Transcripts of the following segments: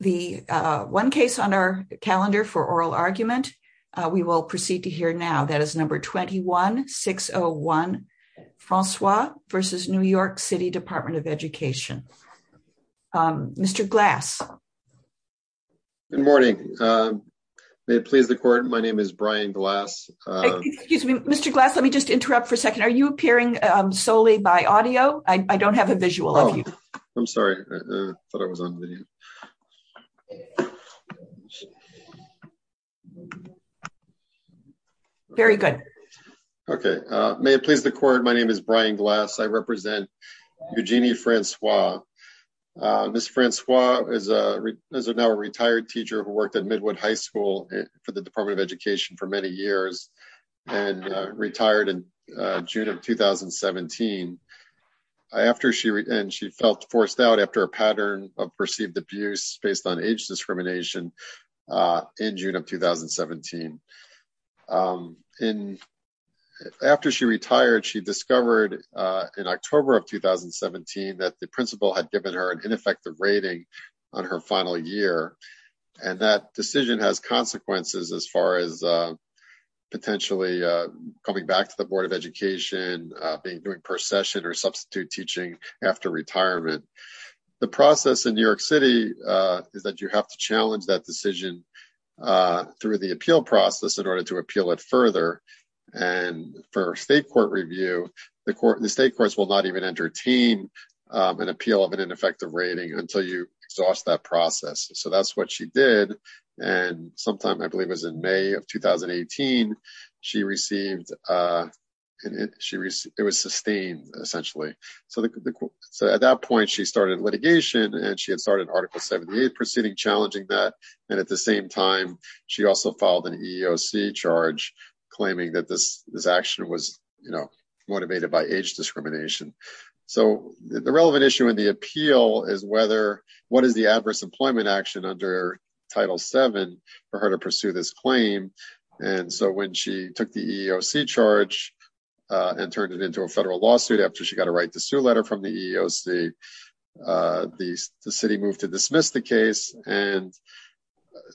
The one case on our calendar for oral argument, we will proceed to hear now. That is number 21-601 Francois v. New York City Department of Education. Mr. Glass. Good morning. May it please the court, my name is Brian Glass. Mr. Glass, let me just interrupt for a second. Are you appearing solely by audio? I don't have visual. I'm sorry, I thought I was on video. Very good. Okay, may it please the court, my name is Brian Glass. I represent Eugenie Francois. Ms. Francois is now a retired teacher who worked at Midwood High School for the Department of Education for many years and retired in June of 2017. She felt forced out after a pattern of perceived abuse based on age discrimination in June of 2017. After she retired, she discovered in October of 2017 that the principal had given her an ineffective rating on her final year and that decision has consequences as far as potentially coming back to the Board of Education, doing procession or substitute teaching after retirement. The process in New York City is that you have to challenge that decision through the appeal process in order to appeal it further. And for state court review, the state courts will not even entertain an appeal of an ineffective rating until you exhaust that process. So that's what she did. And sometime, I believe it was in May of 2018, it was sustained, essentially. So at that point, she started litigation and she had started Article 78 proceeding challenging that. And at the same time, she also filed an EEOC charge claiming that this action was, you know, motivated by age discrimination. So the relevant issue in the under Title VII for her to pursue this claim. And so when she took the EEOC charge and turned it into a federal lawsuit after she got a right to sue letter from the EEOC, the city moved to dismiss the case. And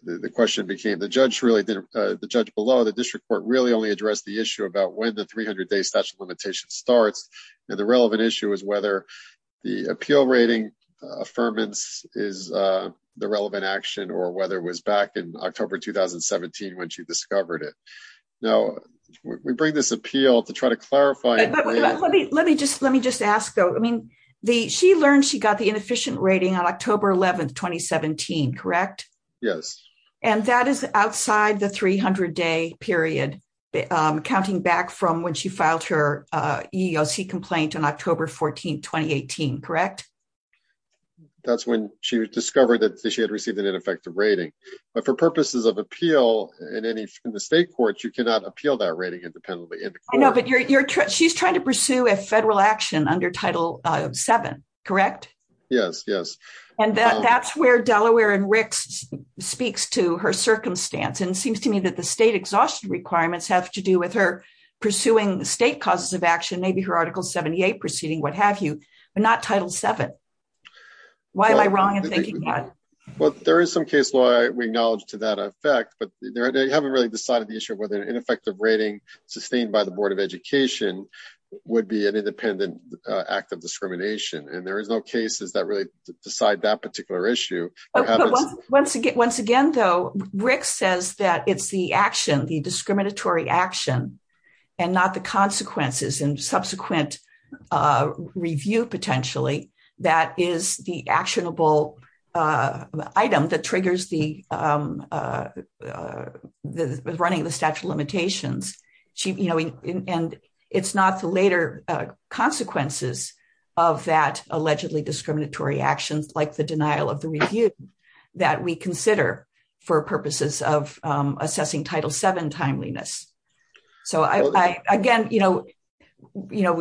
the question became, the judge really didn't, the judge below the district court really only addressed the issue about when the 300-day statute limitation starts. And the relevant issue is whether the appeal rating affirmance is the relevant action or whether it was back in October 2017, when she discovered it. Now, we bring this appeal to try to clarify. Let me just ask though, I mean, she learned she got the inefficient rating on October 11, 2017, correct? Yes. And that is outside the 300-day period, counting back from when she filed her EEOC complaint on October 14, 2018, correct? That's when she discovered that she had received an ineffective rating. But for purposes of appeal in the state courts, you cannot appeal that rating independently. I know, but she's trying to pursue a federal action under Title VII, correct? Yes, yes. And that's where Delaware and Ricks speaks to her circumstance. And it seems to me that the state exhaustion requirements have to do with her pursuing state causes of action, maybe her Article 78 proceeding, what have you, but not Title VII. Why am I wrong in thinking that? Well, there is some case law we acknowledge to that effect, but they haven't really decided the issue of whether an ineffective rating sustained by the Board of Education would be an independent act of discrimination. And there is no cases that really decide that particular issue. Once again, though, Rick says that it's the action, the discriminatory action, and not the consequences and subsequent review, potentially, that is the actionable item that triggers the running of the statute of limitations. And it's not the later consequences of that allegedly discriminatory actions, like the denial of the review, that we consider for purposes of assessing Title VII timeliness. So again,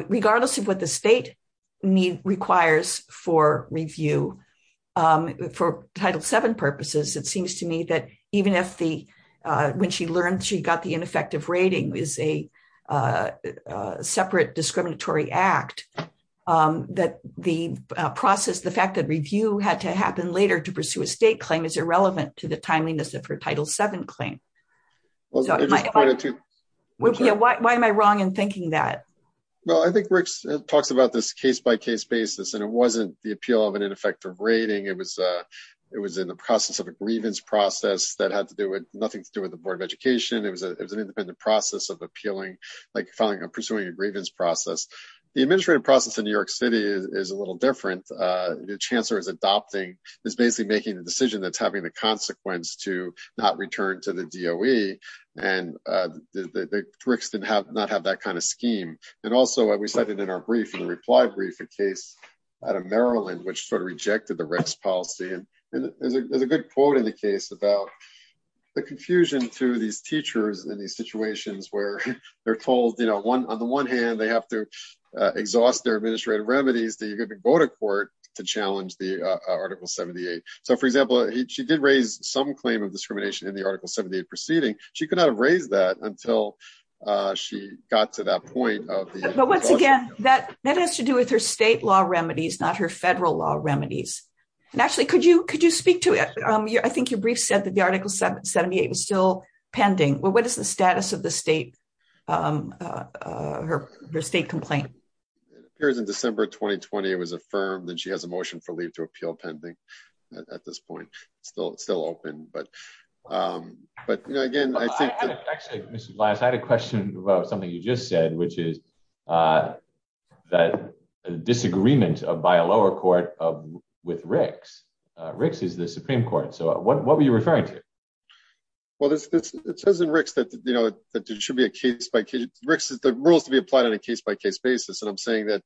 regardless of what the state requires for review, for Title VII purposes, it seems to me that even when she learned she got the that the process, the fact that review had to happen later to pursue a state claim is irrelevant to the timeliness of her Title VII claim. Why am I wrong in thinking that? Well, I think Rick talks about this case-by-case basis, and it wasn't the appeal of an ineffective rating. It was in the process of a grievance process that had nothing to do with the Board of Education. It was an independent process of appealing, like pursuing a grievance process. The administrative process in New York City is a little different. The chancellor is adopting, is basically making the decision that's having the consequence to not return to the DOE, and the Ricks did not have that kind of scheme. And also, we cited in our brief, in the reply brief, a case out of Maryland, which sort of rejected the Ricks policy. And there's a good quote in the case about the confusion to these teachers in these situations where they're told, you know, on the one hand, they have to exhaust their administrative remedies that you could go to court to challenge the Article 78. So, for example, she did raise some claim of discrimination in the Article 78 proceeding. She could not have raised that until she got to that point of the- But once again, that has to do with her state law remedies, not her federal law remedies. And actually, could you speak to it? I think your brief said that the Article 78 was still pending. What is the status of the state, her state complaint? It appears in December 2020, it was affirmed that she has a motion for leave to appeal pending at this point. It's still open. But, you know, again, I think- Actually, Mr. Glass, I had a question about something you just said, which is that disagreement by a lower court with Ricks. Ricks is the Supreme Court. So, what were you referring to? Well, it says in Ricks that, you know, that there should be a case-by-case- Ricks is the rules to be applied on a case-by-case basis. And I'm saying that,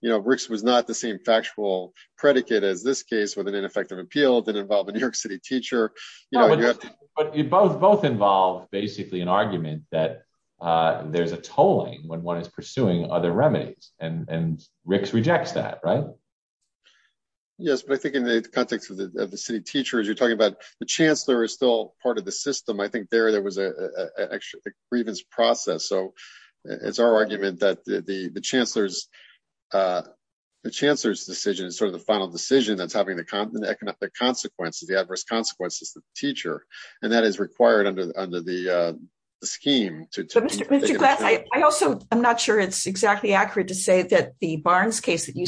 you know, Ricks was not the same factual predicate as this case with an ineffective appeal that involved a New York City teacher. No, but you both involve basically an argument that there's a tolling when one is pursuing other remedies, and Ricks rejects that, right? Yes, but I think in the context of the city teachers, you're talking about the chancellor is still part of the system. I think there, there was a grievance process. So, it's our argument that the chancellor's decision is sort of the final decision that's having the economic consequences, the adverse consequences to the teacher. And that is required under the scheme. But, Mr. Glass, I also, I'm not sure it's exactly accurate to say that the Barnes case that you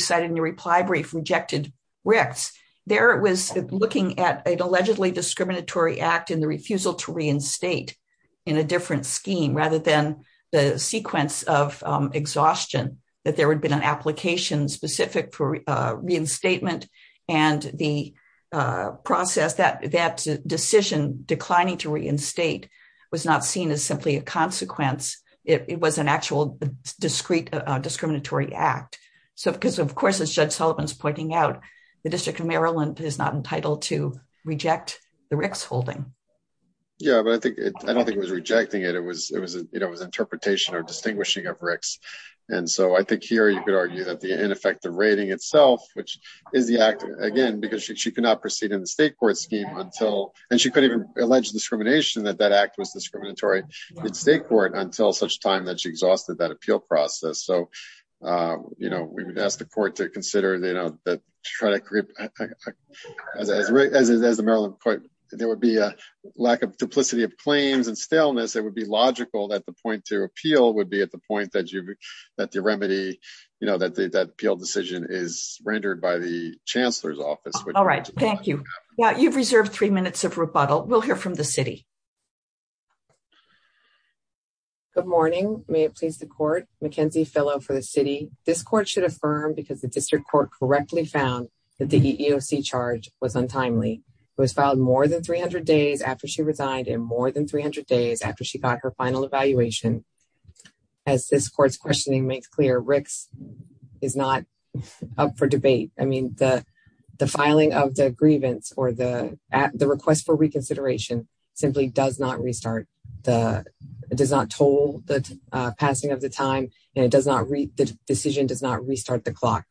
rejected, Ricks, there it was looking at an allegedly discriminatory act in the refusal to reinstate in a different scheme rather than the sequence of exhaustion that there had been an application specific for reinstatement and the process that, that decision declining to reinstate was not seen as simply a consequence. It was an actual discreet discriminatory act. So, because of course, as Judge Sullivan's pointing out, the district of Maryland is not entitled to reject the Ricks holding. Yeah, but I think, I don't think it was rejecting it. It was, it was, you know, it was interpretation or distinguishing of Ricks. And so I think here you could argue that the ineffective rating itself, which is the act again, because she could not proceed in the state court scheme until, and she could even allege discrimination that that act was discriminatory in state court until such time that she exhausted that appeal process. So, you know, we would ask the court to consider, you know, that, try to create as, as, as, as the Maryland court, there would be a lack of duplicity of claims and staleness. It would be logical that the point to appeal would be at the point that you, that the remedy, you know, that the, that appeal decision is rendered by the chancellor's office. All right. Thank you. Yeah. You've reserved three minutes of rebuttal. We'll hear from the city. Good morning. May it please the court Mackenzie fellow for the city. This court should affirm because the district court correctly found that the EOC charge was untimely. It was filed more than 300 days after she resigned and more than 300 days after she got her final evaluation. As this court's questioning makes clear, Rick's is not up for debate. I mean, the, filing of the grievance or the, at the request for reconsideration simply does not restart. The does not toll the passing of the time and it does not read the decision does not restart the clock.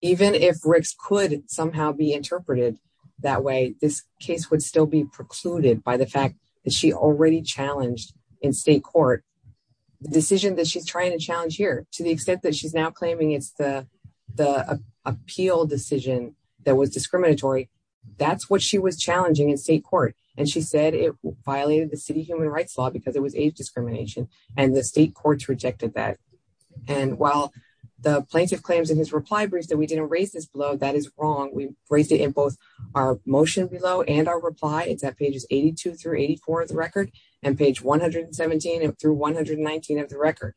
Even if Rick's could somehow be interpreted that way, this case would still be precluded by the fact that she already challenged in state court, the decision that she's trying to challenge here to the extent that she's now claiming it's the, the appeal decision that was discriminatory. That's what she was challenging in state court. And she said it violated the city human rights law because it was age discrimination and the state courts rejected that. And while the plaintiff claims in his reply brief that we didn't raise this blow, that is wrong. We raised it in both our motion below and our reply. It's at pages 82 through 84 of the record and page 117 through 119 of the record.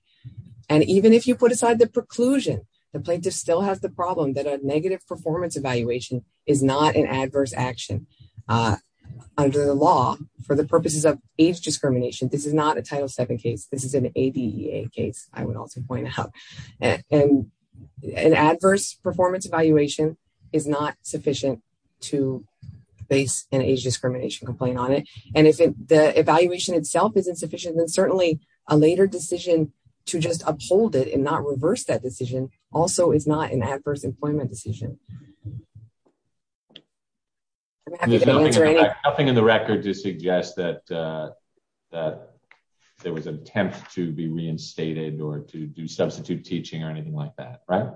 And even if you put aside the preclusion, the plaintiff still has the problem that a negative performance evaluation is not an adverse action under the law for the purposes of age discrimination. This is not a title seven case. This is an ADEA case. I would also point out and an adverse performance evaluation is not sufficient to base an age discrimination complaint on it. And if the evaluation itself is insufficient, then certainly a later decision to just uphold it and not reverse that decision also is not an adverse employment decision. Nothing in the record to suggest that, uh, that there was an attempt to be reinstated or to do substitute teaching or anything like that, right?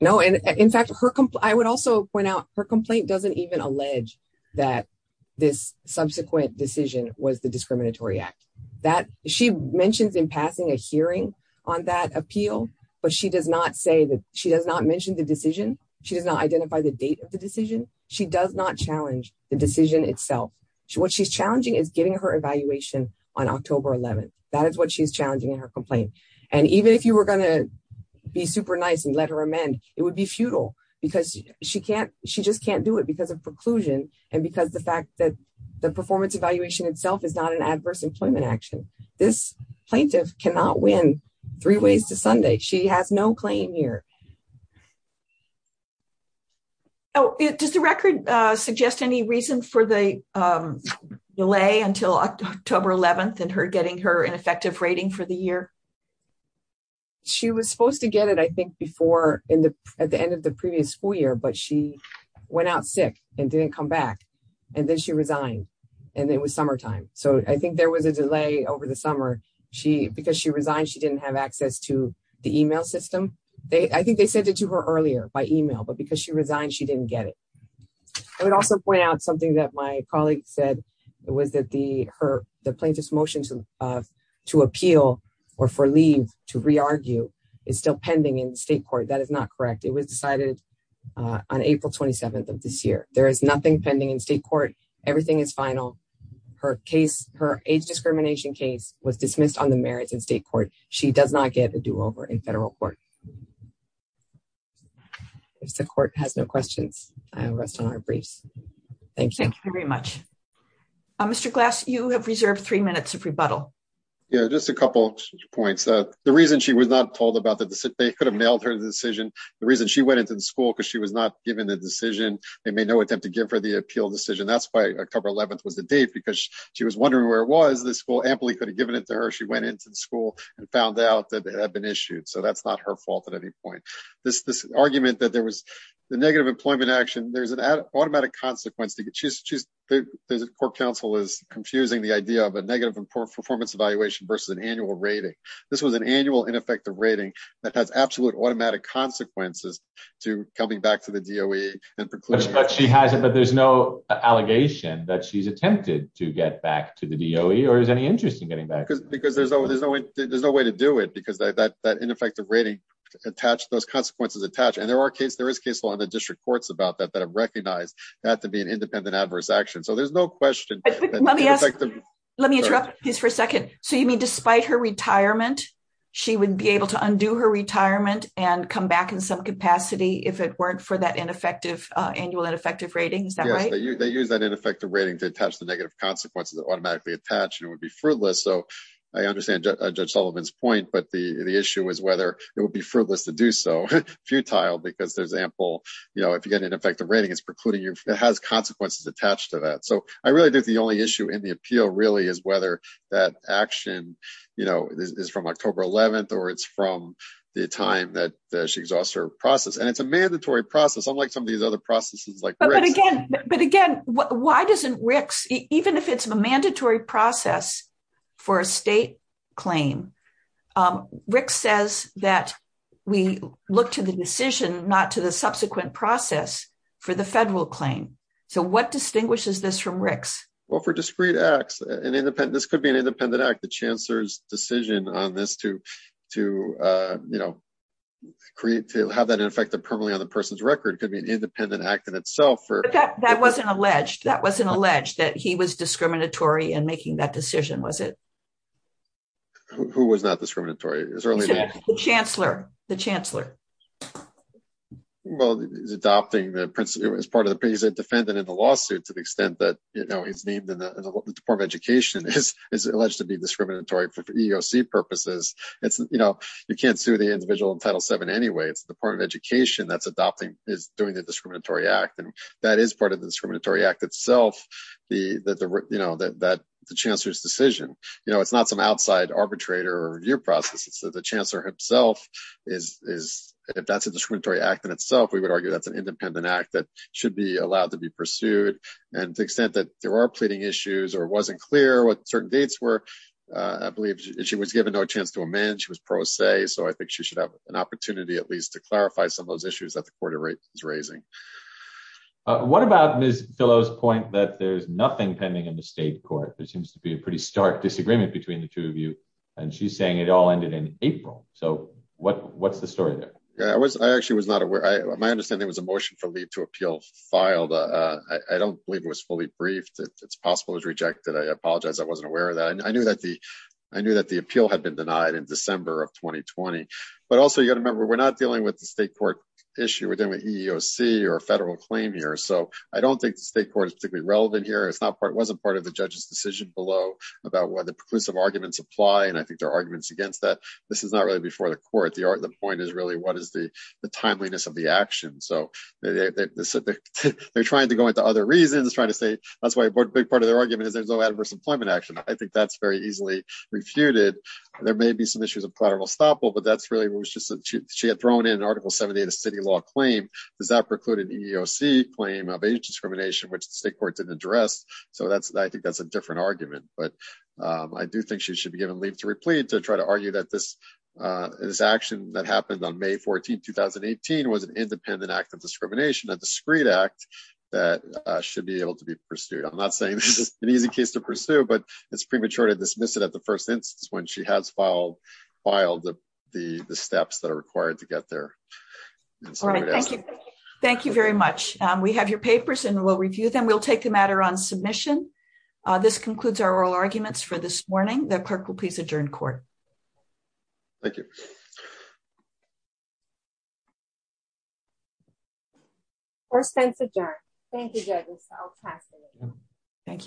No. And in fact, her complaint, I would also point out her complaint doesn't even allege that this subsequent decision was the discriminatory act that she mentions in passing a hearing on that appeal, but she does not say that she does not mention the decision. She does not identify the date of the decision. She does not challenge the decision itself. What she's challenging is getting her evaluation on October 11th. That is what she's challenging in her complaint. And even if you were going to be super nice and let her it would be futile because she can't, she just can't do it because of preclusion. And because the fact that the performance evaluation itself is not an adverse employment action, this plaintiff cannot win three ways to Sunday. She has no claim here. Oh, does the record, uh, suggest any reason for the, um, delay until October 11th and her getting an effective rating for the year? She was supposed to get it. I think before in the, at the end of the previous school year, but she went out sick and didn't come back and then she resigned and it was summertime. So I think there was a delay over the summer. She, because she resigned, she didn't have access to the email system. They, I think they sent it to her earlier by email, but because she resigned, she didn't get it. I would also point out something that my of, to appeal or for leave to re-argue is still pending in state court. That is not correct. It was decided, uh, on April 27th of this year, there is nothing pending in state court. Everything is final. Her case, her age discrimination case was dismissed on the merits in state court. She does not get a do over in federal court. If the court has no questions, I'll rest on our briefs. Thanks. Thank you very much. Mr. Glass, you have reserved three minutes of rebuttal. Yeah, just a couple of points. Uh, the reason she was not told about the decision, they could have nailed her decision. The reason she went into the school because she was not given the decision. They made no attempt to give her the appeal decision. That's why October 11th was the date, because she was wondering where it was. The school amply could have given it to her. She went into the school and found out that it had been issued. So that's not her fault at any point. This argument that there was the negative employment action, there's an automatic consequence. The court counsel is confusing the idea of a negative performance evaluation versus an annual rating. This was an annual ineffective rating that has absolute automatic consequences to coming back to the DOE. But she has it, but there's no allegation that she's attempted to get back to the DOE or is any interest in getting back? Because there's no, there's no, there's no way to do it because that, that ineffective rating attached, those consequences attached. And there are cases, there is case law in the district courts about that, that have recognized that to be an independent adverse action. So there's no question. Let me ask, let me interrupt this for a second. So you mean, despite her retirement, she would be able to undo her retirement and come back in some capacity if it weren't for that ineffective annual ineffective rating? Is that right? They use that ineffective rating to attach the negative consequences that automatically attach and it would be fruitless. So I understand Judge Sullivan's point, but the issue is whether it would be fruitless to do so, futile because there's ample, you know, if you get an ineffective rating, it's precluding you, it has consequences attached to that. So I really think the only issue in the appeal really is whether that action, you know, is from October 11th or it's from the time that she exhausts her process. And it's a mandatory process, unlike some of these other processes like RICS. But again, why doesn't RICS, even if it's a mandatory process for a state claim, RICS says that we look to the decision, not to the subsequent process for the federal claim. So what distinguishes this from RICS? Well, for discrete acts and independent, this could be an independent act, the chancellor's decision on this to, to, you know, create, to have that in effect permanently on the person's record could be an independent act in itself. That wasn't alleged, that wasn't alleged that he was discriminatory in making that decision, was it? Who was not discriminatory? The chancellor, the chancellor. Well, he's adopting the principle as part of the, he's a defendant in the lawsuit to the extent that, you know, he's named in the Department of Education is alleged to be discriminatory for EEOC purposes. It's, you know, you can't sue the individual in Title VII anyway, it's the Department of Education that's adopting, is doing the discriminatory act. And that is part of the discriminatory act itself, the, that the, you know, that, that the chancellor's decision, you know, it's not some outside arbitrator or review processes. So the chancellor himself is, is, if that's a discriminatory act in itself, we would argue that's an independent act that should be allowed to be pursued. And to the extent that there are pleading issues or wasn't clear what certain dates were, I believe she was given no chance to amend, she was pro se. So I think she should have an opportunity at least to clarify some of those issues that the court is raising. What about Ms. Fillo's point that there's nothing pending in the state court? There seems to be a pretty stark disagreement between the two of you. And she's saying it all ended in April. So what, what's the story there? Yeah, I was, I actually was not aware. I, my understanding was a motion for leave to appeal filed. I don't believe it was fully briefed. It's possible it was rejected. I apologize. I wasn't aware of that. And I knew that the, I knew that the appeal had been denied in December of 2020. But also you got to remember, we're not dealing with the state court issue. We're dealing with or a federal claim here. So I don't think the state court is particularly relevant here. It's not part, it wasn't part of the judge's decision below about whether preclusive arguments apply. And I think there are arguments against that. This is not really before the court. The art, the point is really what is the timeliness of the action. So they're trying to go into other reasons, trying to say that's why a big part of their argument is there's no adverse employment action. I think that's very easily refuted. There may be some issues of collateral estoppel, but that's really what was just, she had thrown in an article 70 of the city law claim does that preclude an EEOC claim of age discrimination, which the state court didn't address. So that's, I think that's a different argument, but I do think she should be given leave to replete to try to argue that this, this action that happened on May 14th, 2018, was an independent act of discrimination, a discreet act that should be able to be pursued. I'm not saying this is an easy case to pursue, but it's premature to dismiss it at the first instance, when she has filed the steps that are required to get there. Thank you very much. We have your papers and we'll review them. We'll take the matter on submission. This concludes our oral arguments for this morning. The clerk will please adjourn court. Thank you. First tense adjourned. Thank you, judges. I'll pass. Thank you. Thank you.